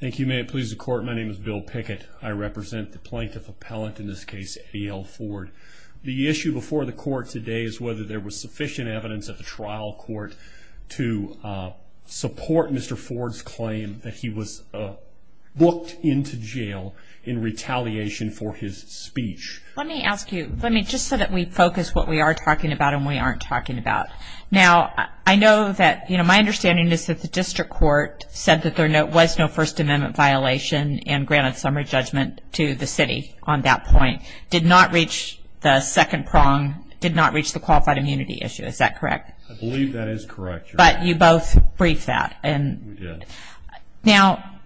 thank you may it please the court my name is Bill Pickett I represent the plaintiff appellant in this case EL Ford the issue before the court today is whether there was sufficient evidence at the trial court to support mr. Ford's claim that he was booked into jail in retaliation for his speech let me ask you let me just so that we focus what we are talking about and we aren't talking about now I know that you know my understanding is that the district court said that there was no First Amendment violation and granted summary judgment to the city on that point did not reach the second prong did not reach the qualified immunity issue is that correct but you both briefed that and now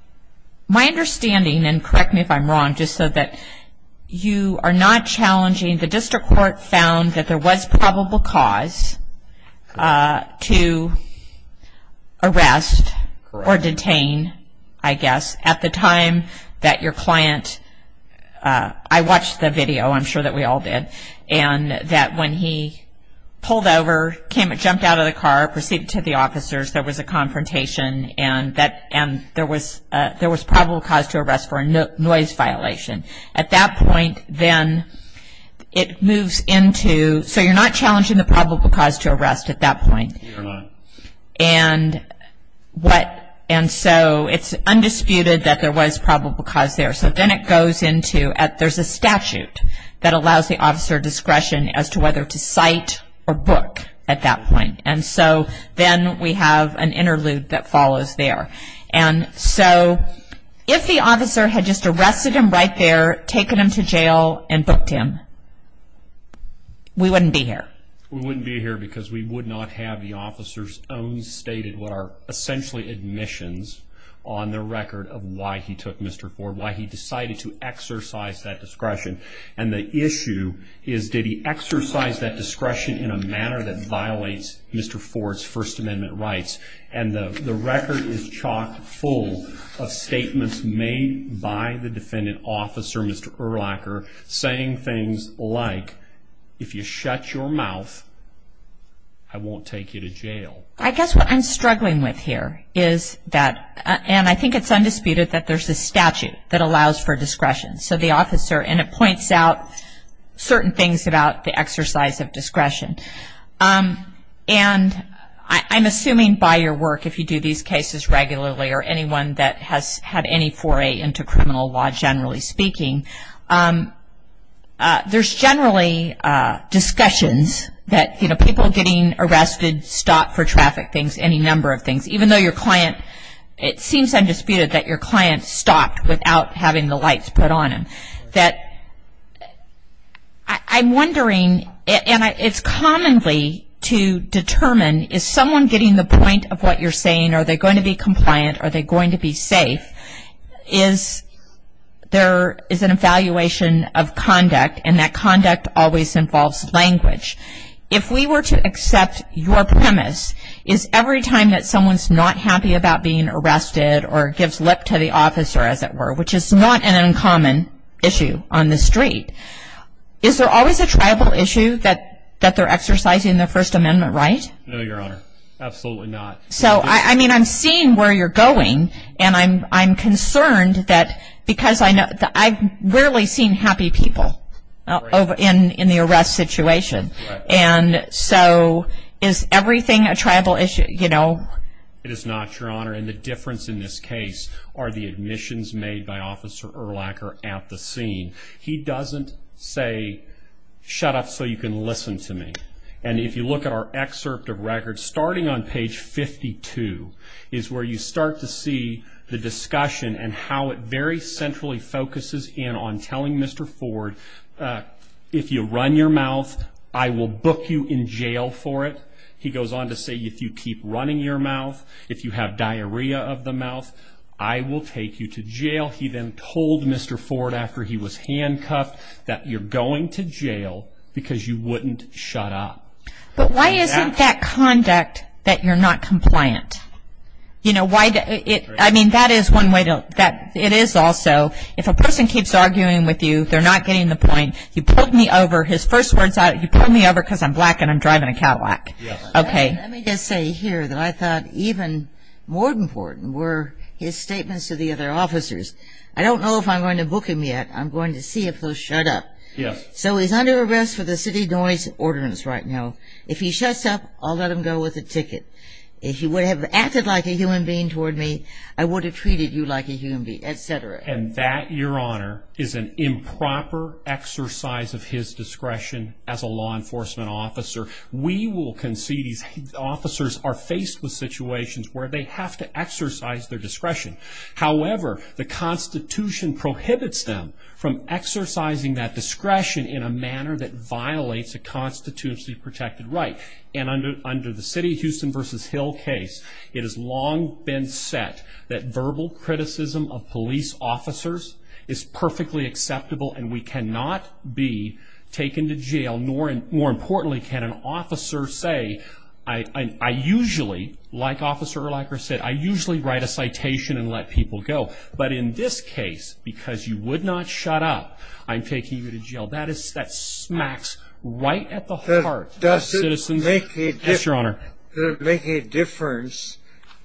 my understanding and correct me if I'm wrong just so that you are not challenging the district court found that there was probable cause to arrest or detained I guess at the time that your client I watched the video I'm sure that we all did and that when he pulled over came and jumped out of the car proceeded to the officers there was a confrontation and that and there was there was probable cause to arrest for a noise violation at that point then it moves into so you're not challenging the probable cause to arrest at that point and what and so it's undisputed that there was probable cause there so then it goes into at there's a statute that allows the officer discretion as to whether to cite or book at that point and so then we have an interlude that follows there and so if the officer had just arrested him right there taking him to jail and booked him we wouldn't be here we wouldn't be here because we would not have the officers own stated what are essentially admissions on the record of why he took Mr. Ford why he decided to exercise that discretion and the issue is did he exercise that discretion in a manner that violates Mr. Ford's First Amendment rights and the record is chocked full of statements made by the defendant officer Mr. Urlacher saying things like if you shut your mouth I won't take you to jail. I guess what I'm struggling with here is that and I think it's undisputed that there's a statute that allows for discretion so the officer and it points out certain things about the exercise of discretion and I'm assuming by your work if you do these cases regularly or anyone that has had any foray into criminal law generally speaking there's generally discussions that people getting arrested stop for traffic things any number of things even though your client it seems undisputed that your client stopped without having the lights put on him that I'm wondering and it's commonly to determine is someone getting the point of what you're saying are they going to be compliant are they going to be safe is there is an evaluation of conduct and that conduct always involves language if we were to accept your premise is every time that someone's not happy about being arrested or gives lip to the officer as it were which is not an uncommon issue on the street is there always a tribal issue that that they're exercising the First Amendment right so I mean I'm seeing where you're going and I'm I'm concerned that because I know that I've rarely seen happy people over in in the arrest situation and so is everything a tribal issue you know it is not your honor and the difference in this case are the admissions made by officer or lacquer at the scene he doesn't say shut up so you can listen to me and if you look at our excerpt of records starting on page 52 is where you start to see the discussion and how it very centrally focuses in on telling Mr. Ford if you run your mouth I will book you in jail for it he goes on to say if you keep running your mouth if you have diarrhea of the mouth I will take you to jail he then told Mr. Ford after he was handcuffed that you're going to jail because you wouldn't shut up but why is that conduct that you're not compliant you know why did it I mean that is one way to that it is also if a person keeps arguing with you they're not getting the point you put me over his first words out you put me over because I'm black and I'm driving a Cadillac okay let me just say here that I thought even more important were his statements to the other officers I don't know if I'm going to book him yet I'm going to see if they'll shut up yes so he's under arrest for the city noise ordinance right now if he shuts up I'll let him go with a ticket if he would have acted like a human being toward me I would have treated you like a human being etc and that your honor is an improper exercise of his discretion as a law enforcement officer we will concede these officers are faced with situations where they have to exercise their discretion however the Constitution prohibits them from exercising that discretion in a manner that violates a constitutionally protected right and under the city Houston versus Hill case it has long been set that verbal criticism of police officers is perfectly acceptable and we cannot be taken to jail nor and more importantly can an officer say I usually like officer or like I said I usually write a citation and let people go but in this case because you would not shut up I'm taking you to jail that is that smacks right at the heart does it make it yes your honor make a difference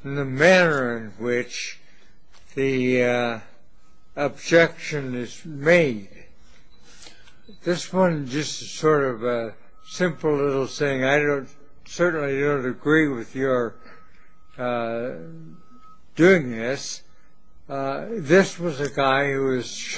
in the manner in which the objection is made this one just sort of a simple little saying I don't certainly don't agree with your doing this this was a guy who does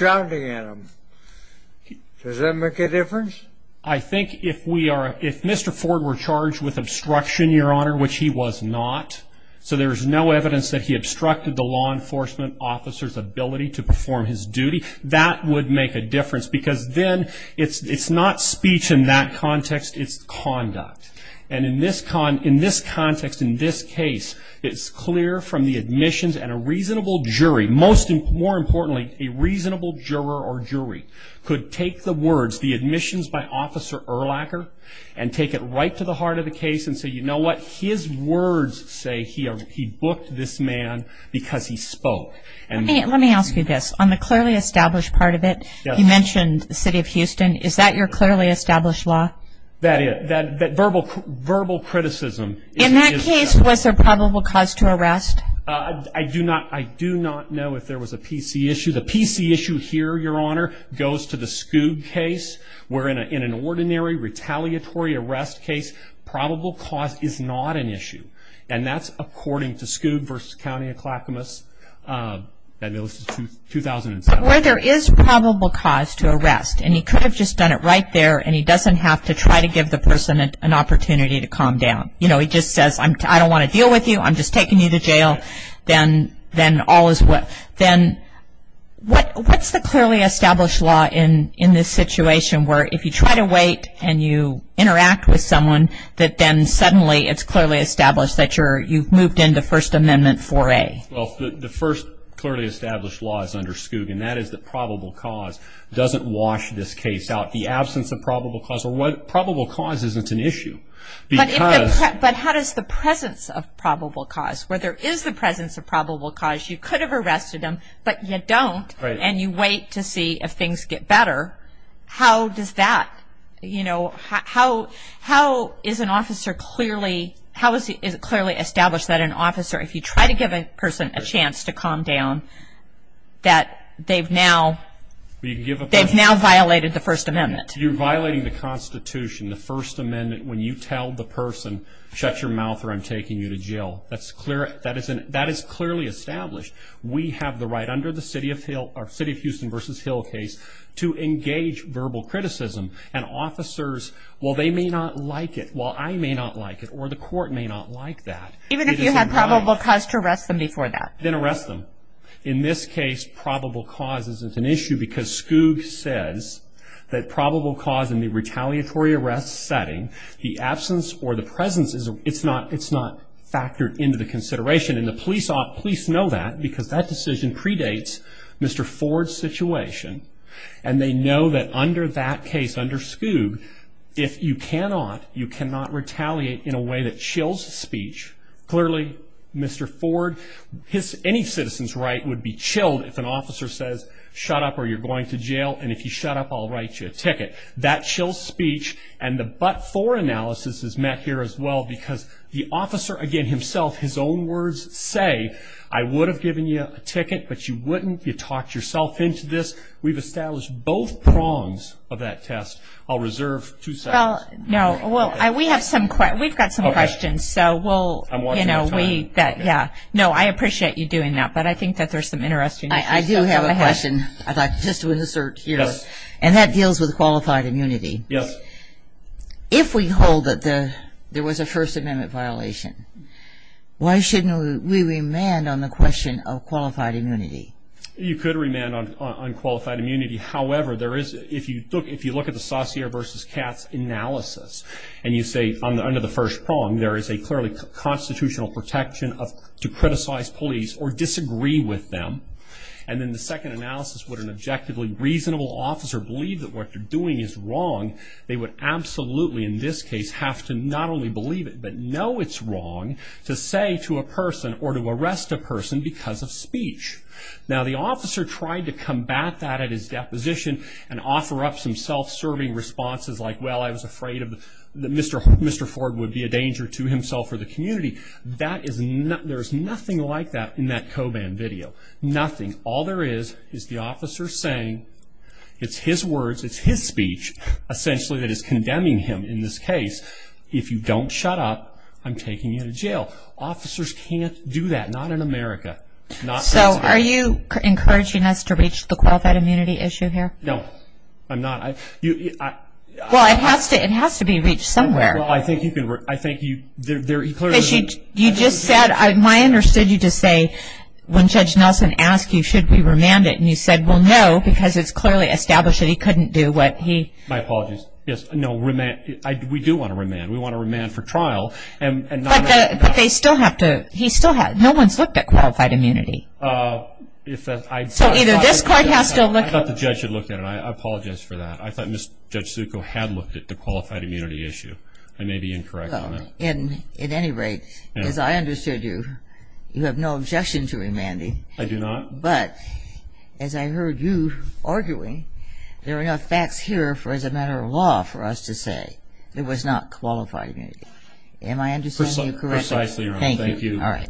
that make a difference I think if we are if Mr. Ford were charged with obstruction your honor which he was not so there's no evidence that he obstructed the law enforcement officers ability to perform his duty that would make a difference because then it's it's not speech in that context it's conduct and in this con in this context in this case it's clear from the admissions and a reasonable jury most importantly a reasonable juror or jury could take the words the admissions by officer or lacquer and take it right to the heart of the case and so you know what his words say here he booked this man because he spoke and let me ask you this on the clearly established part of it you mentioned the city of Houston is that your clearly established law that is that verbal verbal criticism in that case was a probable cause to arrest I do not I do not know if there was a PC issue the PC issue here your honor goes to the school case we're in a in an ordinary retaliatory arrest case probable cause is not an issue and that's according to school versus county of Clackamas 2007 where there is probable cause to arrest and he could have just done it right there and he doesn't have to try to give the person that an opportunity to calm down you know he just says I'm I don't want to deal with you I'm just taking you to jail then then all is what then what what's the clearly established law in in this situation where if you try to wait and you interact with someone that then suddenly it's clearly established that you're you've moved into First Amendment for a well the first clearly established law is under skugan that is the probable cause doesn't wash this case out the absence of probable cause or what probable cause isn't an issue but how does the presence of probable cause where there is the presence of probable cause you could have arrested him but you don't and you wait to see if things get better how does that you know how how is an officer clearly how is it clearly established that an officer if you try to give a person a chance to calm down that they've now you give it they've now violated the First Amendment you're violating the Constitution the First Amendment when you tell the person shut your mouth or I'm taking you to jail that's clear that isn't that is clearly established we have the right under the city of Hill or city of Houston versus Hill case to engage verbal criticism and officers well they may not like it well I may not like it or the court may not like that even if you have probable cause to arrest them before that then arrest them in this case probable cause isn't an issue because skug says that probable cause in retaliatory arrest setting the absence or the presence is it's not it's not factored into the consideration and the police ought police know that because that decision predates mr. Ford situation and they know that under that case under skug if you cannot you cannot retaliate in a way that chills speech clearly mr. Ford his any citizens right would be chilled if an officer says shut up or you're going to jail and if you shut up I'll write you a ticket that chills speech and the but for analysis is met here as well because the officer again himself his own words say I would have given you a ticket but you wouldn't you talk yourself into this we've established both prongs of that test I'll reserve to sell no well I we have some quite we've got some questions so well you know we yeah no I appreciate you doing that but I think that there's some interesting I do have a question I'd like just to insert here and that deals with qualified immunity yes if we hold that there there was a First Amendment violation why shouldn't we remand on the question of qualified immunity you could remand on unqualified immunity however there is if you took if you look at the saucier versus cats analysis and you say under the first prong there is a clearly constitutional protection of to criticize police or and then the second analysis would an objectively reasonable officer believe that what you're doing is wrong they would absolutely in this case have to not only believe it but know it's wrong to say to a person or to arrest a person because of speech now the officer tried to combat that at his deposition and offer up some self-serving responses like well I was afraid of the mr. mr. Ford would be a danger to himself or the community that is not there's nothing like that in that coban video nothing all there is is the officer saying it's his words it's his speech essentially that is condemning him in this case if you don't shut up I'm taking you to jail officers can't do that not in America so are you encouraging us to reach the qualified immunity issue here no I'm not I well it has to it has to be reached somewhere well I think you can work I think you you just said I understood you to say when judge Nelson asked you should be remanded and you said well no because it's clearly established that he couldn't do what he my apologies yes no remand we do want to remand we want to remand for trial and they still have to he still had no one's looked at qualified immunity so either this court has to look at the judge should look at it I apologize for that I thought mr. judge Zuko had looked at the qualified immunity issue I may be incorrect in at any rate as I understood you you have no objection to remanding I do not but as I heard you arguing there are enough facts here for as a matter of law for us to say it was not qualified me am I understanding you correctly thank you all right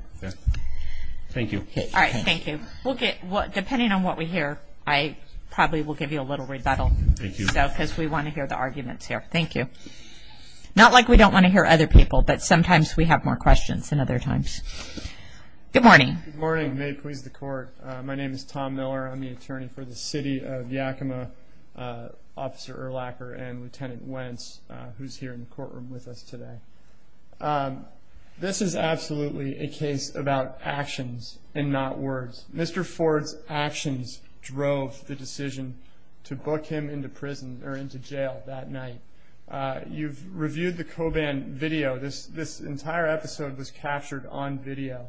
thank you okay all right thank you we'll get what depending on what we hear I probably will give you a little rebuttal because we want to hear the arguments here thank you not like we don't want to hear other people but sometimes we have more questions than other times good morning morning may please the court my name is Tom Miller I'm the attorney for the city of Yakima officer or lacquer and lieutenant Wentz who's here in the courtroom with us today this is absolutely a case about actions and not words mr. Ford's actions drove the decision to book him into prison or into jail that night you've reviewed the coban video this this entire episode was captured on video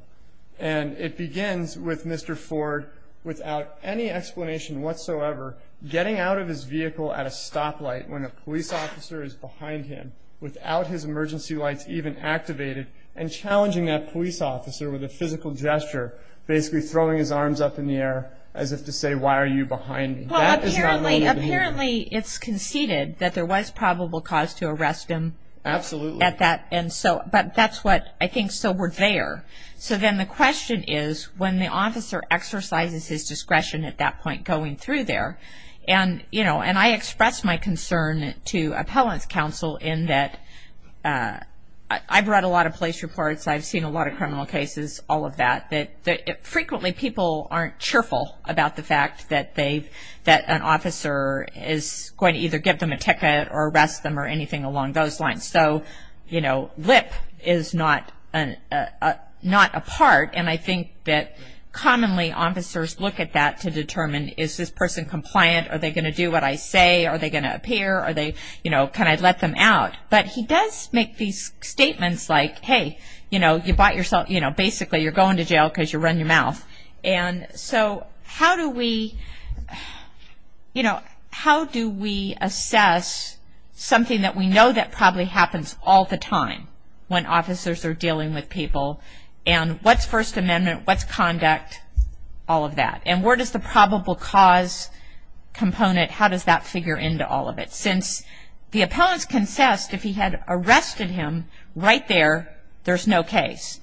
and it begins with mr. Ford without any explanation whatsoever getting out of his vehicle at a stoplight when a police officer is behind him without his emergency lights even activated and gesture basically throwing his arms up in the air as if to say why are you behind me apparently it's conceded that there was probable cause to arrest him absolutely at that and so but that's what I think so we're there so then the question is when the officer exercises his discretion at that point going through there and you know and I expressed my concern to appellants counsel in that I brought a lot of police reports I've seen a lot of frequently people aren't cheerful about the fact that they that an officer is going to either get them a ticket or arrest them or anything along those lines so you know lip is not a not a part and I think that commonly officers look at that to determine is this person compliant are they going to do what I say are they gonna appear are they you know can I let them out but he does make these statements like hey you know you bought yourself you know basically you're going to jail because you run your mouth and so how do we you know how do we assess something that we know that probably happens all the time when officers are dealing with people and what's First Amendment what's conduct all of that and where does the probable cause component how does that figure into all of it since the appellants concessed if he had arrested him right there there's no case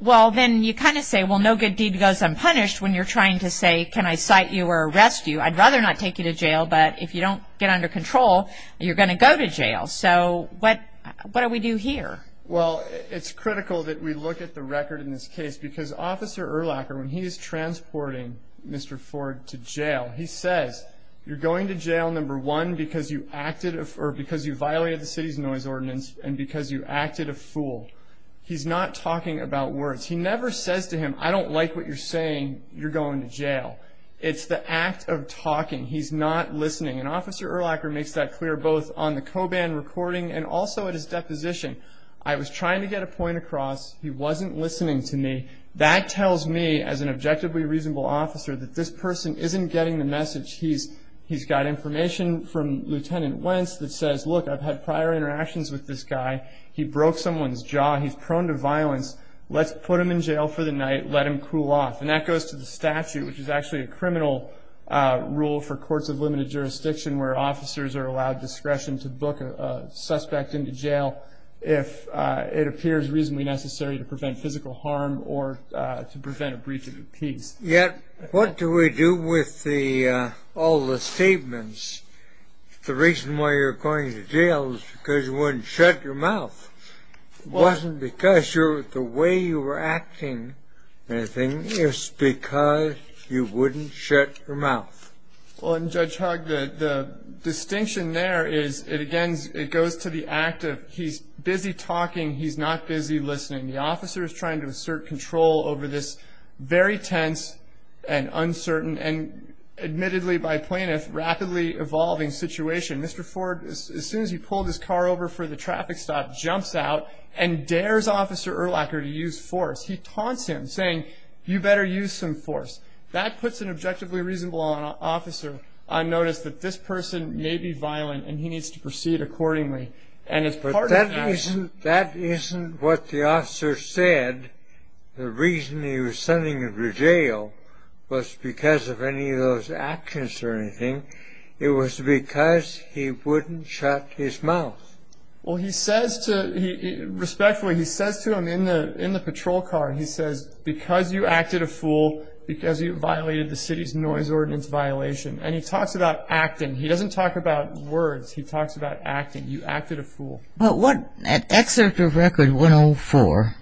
well then you kind of say well no good deed goes unpunished when you're trying to say can I cite you or arrest you I'd rather not take you to jail but if you don't get under control you're gonna go to jail so what what do we do here well it's critical that we look at the record in this case because officer or locker when he is transporting mr. Ford to jail he says you're going to jail number one because you acted or because you acted a fool he's not talking about words he never says to him I don't like what you're saying you're going to jail it's the act of talking he's not listening an officer or locker makes that clear both on the coban recording and also at his deposition I was trying to get a point across he wasn't listening to me that tells me as an objectively reasonable officer that this person isn't getting the message he's he's got information from lieutenant Wentz that says look I've had prior interactions with this guy he broke someone's jaw he's prone to violence let's put him in jail for the night let him cool off and that goes to the statute which is actually a criminal rule for courts of limited jurisdiction where officers are allowed discretion to book a suspect into jail if it appears reasonably necessary to prevent physical harm or to prevent a breach of peace yet what do we do with the all the statements the reason why you're going to jail is because you wouldn't shut your mouth wasn't because you're the way you were acting anything is because you wouldn't shut your mouth well and judge hug the distinction there is it again it goes to the act of he's busy talking he's not busy listening the officer is trying to assert control over this very tense and uncertain and admittedly by plaintiff rapidly evolving situation mr. Ford as soon as he pulled his car over for the traffic stop jumps out and dares officer urlacher to use force he taunts him saying you better use some force that puts an objectively reasonable on officer I noticed that this person may be violent and he needs to proceed accordingly and it's part of that that isn't what the officer said the reason he was sending him to jail was because of any of those actions or anything it was because he wouldn't shut his mouth well he says to respectfully he says to him in the in the patrol car he says because you acted a fool because you violated the city's noise ordinance violation and he talks about acting he doesn't talk about words he talks about acting you acted a fool but what an record 104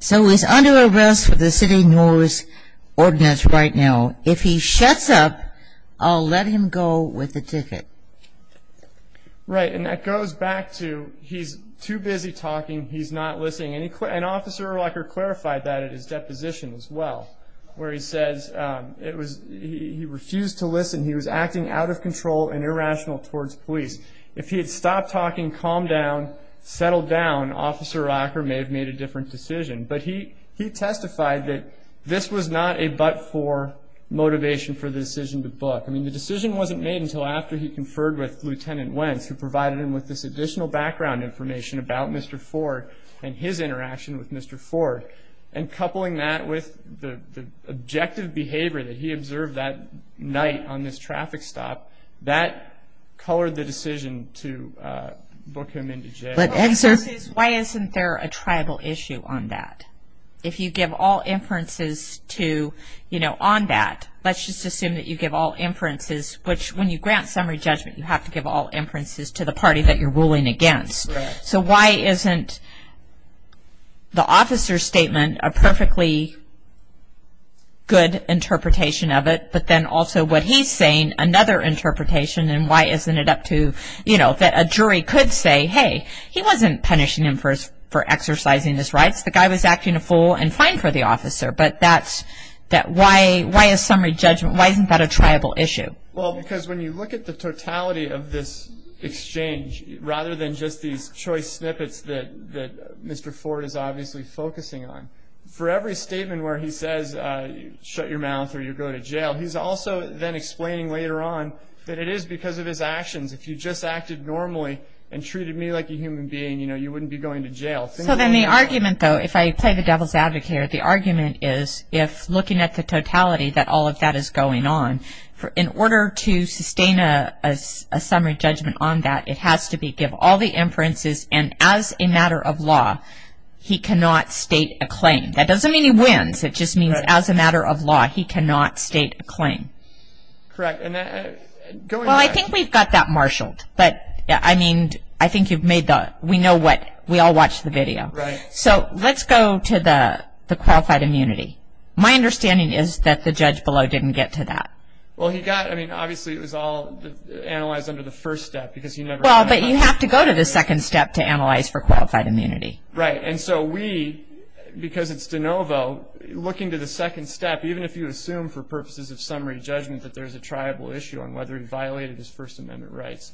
so he's under arrest for the city noise ordinance right now if he shuts up I'll let him go with the ticket right and that goes back to he's too busy talking he's not listening any quick an officer urlacher clarified that at his deposition as well where he says it was he refused to listen he was acting out of control and irrational towards police if he had stopped talking calm down settle down officer rocker may have made a different decision but he he testified that this was not a but for motivation for the decision to book I mean the decision wasn't made until after he conferred with lieutenant Wentz who provided him with this additional background information about mr. Ford and his interaction with mr. Ford and coupling that with the objective behavior that he observed that night on this traffic stop that colored the answer why isn't there a tribal issue on that if you give all inferences to you know on that let's just assume that you give all inferences which when you grant summary judgment you have to give all inferences to the party that you're ruling against so why isn't the officer's statement a perfectly good interpretation of it but then also what he's saying another interpretation and why isn't it up to you know that a jury could say hey he wasn't punishing him for his for exercising his rights the guy was acting a fool and fine for the officer but that's that why why is summary judgment why isn't that a tribal issue well because when you look at the totality of this exchange rather than just these choice snippets that mr. Ford is obviously focusing on for every statement where he says shut your mouth or you go to jail he's also then later on that it is because of his actions if you just acted normally and treated me like a human being you know you wouldn't be going to jail so then the argument though if I play the devil's advocate here the argument is if looking at the totality that all of that is going on for in order to sustain a summary judgment on that it has to be give all the inferences and as a matter of law he cannot state a claim that doesn't mean he wins it just means as a claim correct and I think we've got that marshaled but I mean I think you've made that we know what we all watch the video right so let's go to the the qualified immunity my understanding is that the judge below didn't get to that well he got I mean obviously it was all analyzed under the first step because you never well but you have to go to the second step to analyze for qualified immunity right and so we because it's de novo looking to the second step even if you assume for purposes of summary judgment that there's a tribal issue on whether he violated his First Amendment rights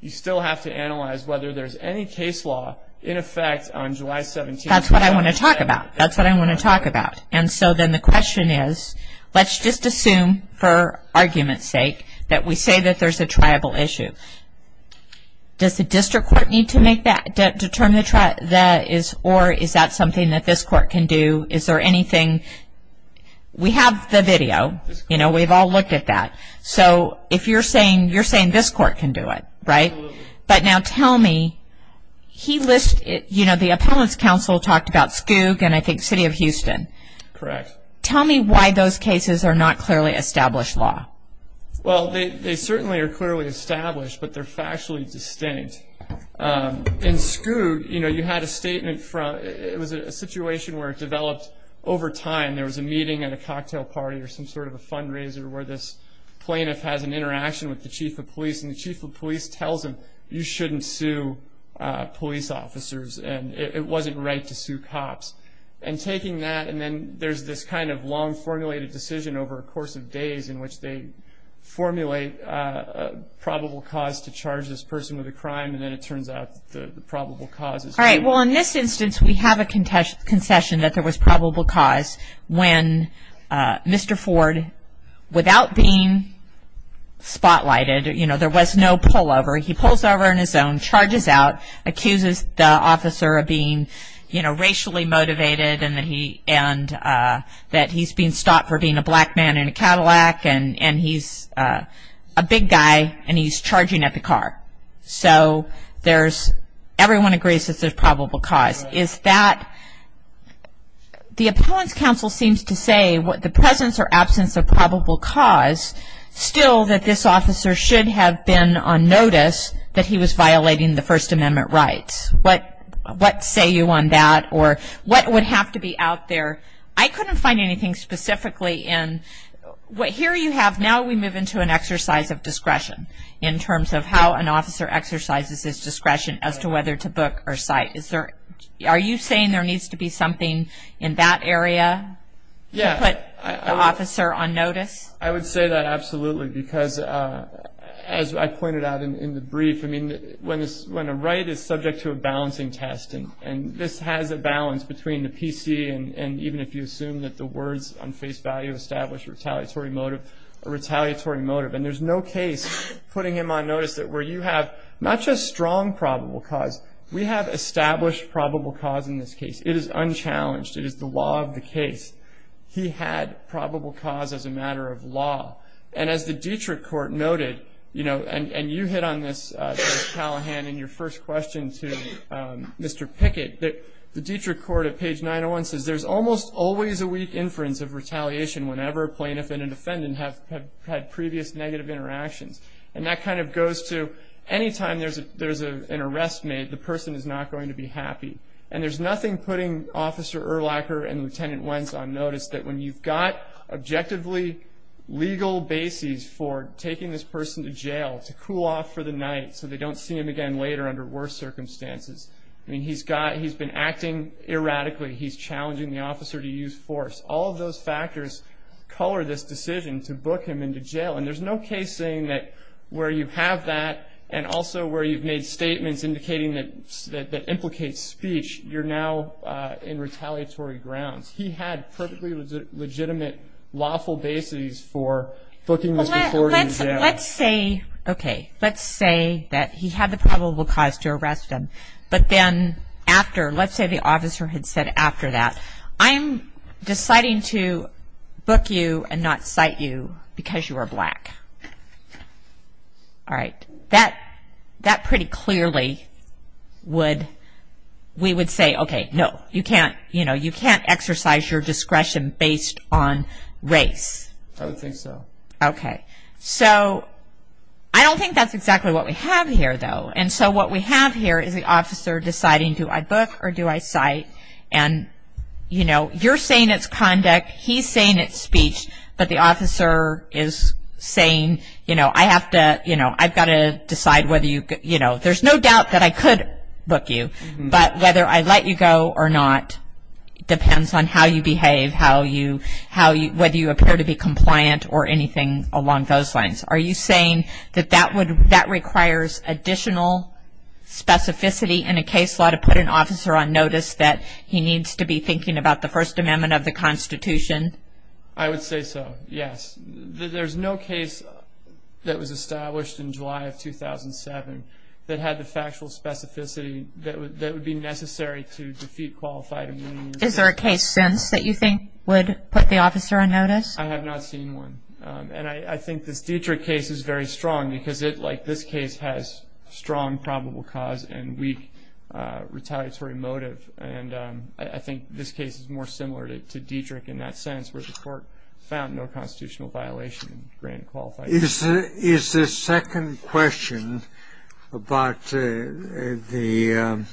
you still have to analyze whether there's any case law in effect on July 17 that's what I want to talk about that's what I want to talk about and so then the question is let's just assume for argument's sake that we say that there's a tribal issue does the district court need to make that determine the track that is or is that something that this court can do is there anything we have the video you know we've all looked at that so if you're saying you're saying this court can do it right but now tell me he lists it you know the opponents council talked about skug and I think City of Houston correct tell me why those cases are not clearly established law well they certainly are clearly established but they're factually distinct in skug you know you had a statement from it was a situation where it developed over time there was a meeting at a cocktail party or some sort of a fundraiser where this plaintiff has an interaction with the chief of police and the chief of police tells him you shouldn't sue police officers and it wasn't right to sue cops and taking that and then there's this kind of long formulated decision over a course of days in which they formulate a probable cause to charge this person with a crime and then it turns out the contest concession that there was probable cause when mr. Ford without being spotlighted you know there was no pullover he pulls over in his own charges out accuses the officer of being you know racially motivated and that he and that he's being stopped for being a black man in a Cadillac and and he's a big guy and he's charging at the car so there's everyone agrees that there's probable cause is that the opponent's counsel seems to say what the presence or absence of probable cause still that this officer should have been on notice that he was violating the First Amendment rights but what say you on that or what would have to be out there I couldn't find anything specifically in what here you have now we move into an exercise of discretion in terms of how an officer exercises his discretion as to whether to book or site is there are you saying there needs to be something in that area yeah officer on notice I would say that absolutely because as I pointed out in the brief I mean when is when a right is subject to a balancing test and this has a balance between the PC and even if you assume that the words on face value established retaliatory motive retaliatory motive and there's no case putting him on notice that were you have not just strong probable cause we have established probable cause in this case it is unchallenged it is the law of the case he had probable cause as a matter of law and as the Dietrich court noted you know and and you hit on this Callahan in your first question to mr. Pickett that the Dietrich court at page 901 says there's almost always a weak inference of retaliation whenever plaintiff and a defendant have had previous negative interactions and that kind of goes to any time there's a there's a an arrest made the person is not going to be happy and there's nothing putting officer or lacquer and lieutenant Wentz on notice that when you've got objectively legal bases for taking this person to jail to cool off for the night so they don't see him again later under worse circumstances he's got he's been acting erratically he's challenging the officer to use force all those factors color this have that and also where you've made statements indicating that that implicates speech you're now in retaliatory grounds he had perfectly legitimate lawful bases for booking let's say okay let's say that he had the probable cause to arrest him but then after let's say the officer had said after that I'm deciding to book you and not cite you because you are black that that pretty clearly would we would say okay no you can't you know you can't exercise your discretion based on race okay so I don't think that's exactly what we have here though and so what we have here is the officer deciding to I book or do I cite and you know you're saying it's conduct he's saying it's but the officer is saying you know I have to you know I've got to decide whether you you know there's no doubt that I could book you but whether I let you go or not depends on how you behave how you how you whether you appear to be compliant or anything along those lines are you saying that that would that requires additional specificity in a case law to put an officer on notice that he needs to be thinking about the First Amendment of the Constitution I would say so yes there's no case that was established in July of 2007 that had the factual specificity that would that would be necessary to defeat qualified is there a case sense that you think would put the officer on notice I have not seen one and I think this Dietrich case is very strong because it like this case has strong probable cause and weak retaliatory motive and I think this case is more similar to Dietrich in that sense where the court found no constitutional violation grant qualified is is the second question about the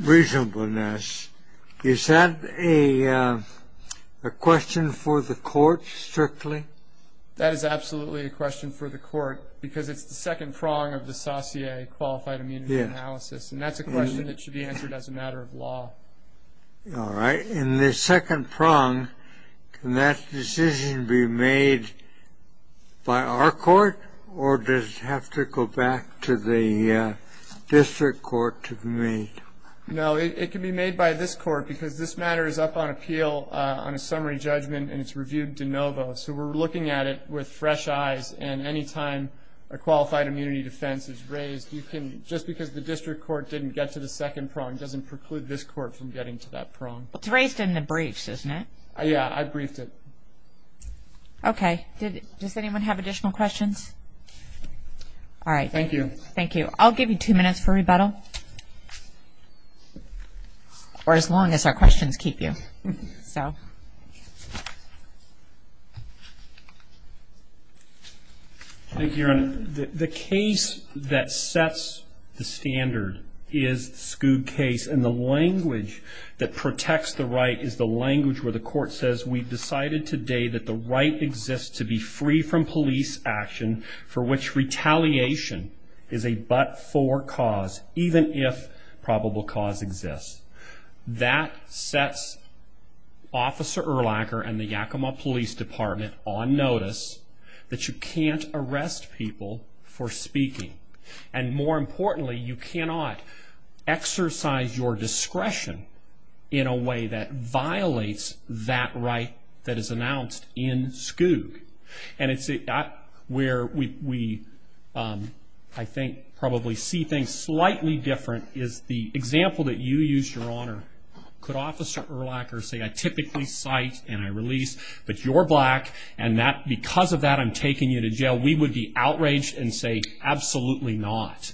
reasonableness is that a question for the court strictly that is absolutely a question for the court because it's the second prong of the saucier qualified analysis and that's a question that should be answered as a matter of law all right in the second prong can that decision be made by our court or does have to go back to the district court to me no it can be made by this court because this matter is up on appeal on a summary judgment and it's reviewed de novo so we're looking at it with fresh eyes and anytime a qualified immunity defense is raised you can just because the district court didn't get to the second prong doesn't preclude this court from getting to that prong it's raised in the briefs isn't it oh yeah I briefed it okay did does anyone have additional questions all right thank you thank you I'll give you two minutes for rebuttal or as long as our questions keep you so thank you the case that sets the standard is scoob case and the language that protects the right is the language where the court says we've decided today that the right exists to be free from police action for which retaliation is a for cause even if probable cause exists that sets officer or lacquer and the Yakima Police Department on notice that you can't arrest people for speaking and more importantly you cannot exercise your discretion in a way that violates that right that is announced in school and it's it got where we I think probably see things slightly different is the example that you use your honor could officer or lacquer say I typically cite and I release but you're black and that because of that I'm taking you to jail we would be outraged and say absolutely not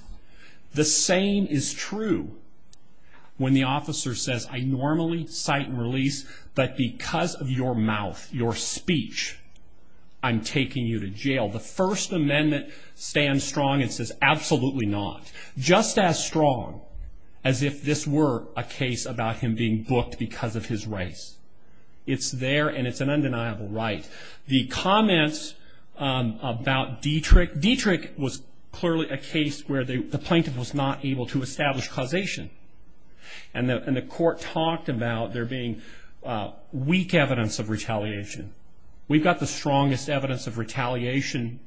the same is true when the officer says I normally cite and release but because of your mouth your speech I'm taking you to jail the First Amendment stand strong and says absolutely not just as strong as if this were a case about him being booked because of his race it's there and it's an undeniable right the comments about Dietrich was clearly a case where the plaintiff was not able to establish causation and the court talked about there being weak evidence of retaliation we got the strongest evidence of retaliation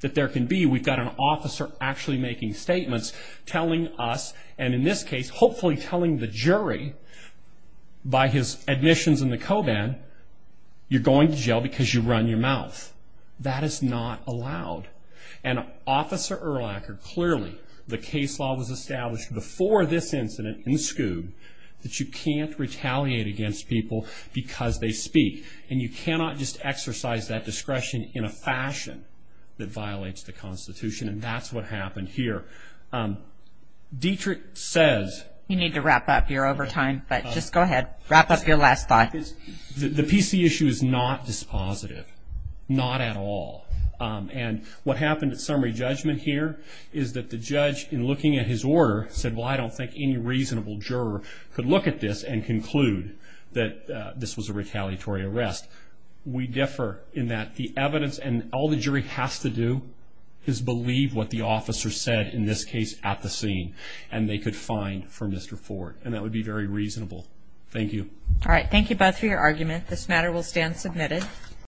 that there can be we got an officer actually making statements telling us and in this case hopefully telling the jury by his admissions in the coban you're going to jail because you run your mouth that is not allowed and officer or lacquer clearly the case law was established before this incident in school that you can't retaliate against people because they speak and you cannot just exercise that discretion in a fashion that violates the Constitution and that's what happened here Dietrich says you need to wrap up your overtime but just go ahead wrap up your last thought is that the PC issue is not dispositive not at all and what happened to summary judgment here is that the judge in looking at his order said well I don't think any reasonable juror could look at this and conclude that this was a retaliatory arrest we differ in that the officer said in this case at the scene and they could find for Mr. Ford and that would be very reasonable thank you all right thank you both for your argument this matter will stand submitted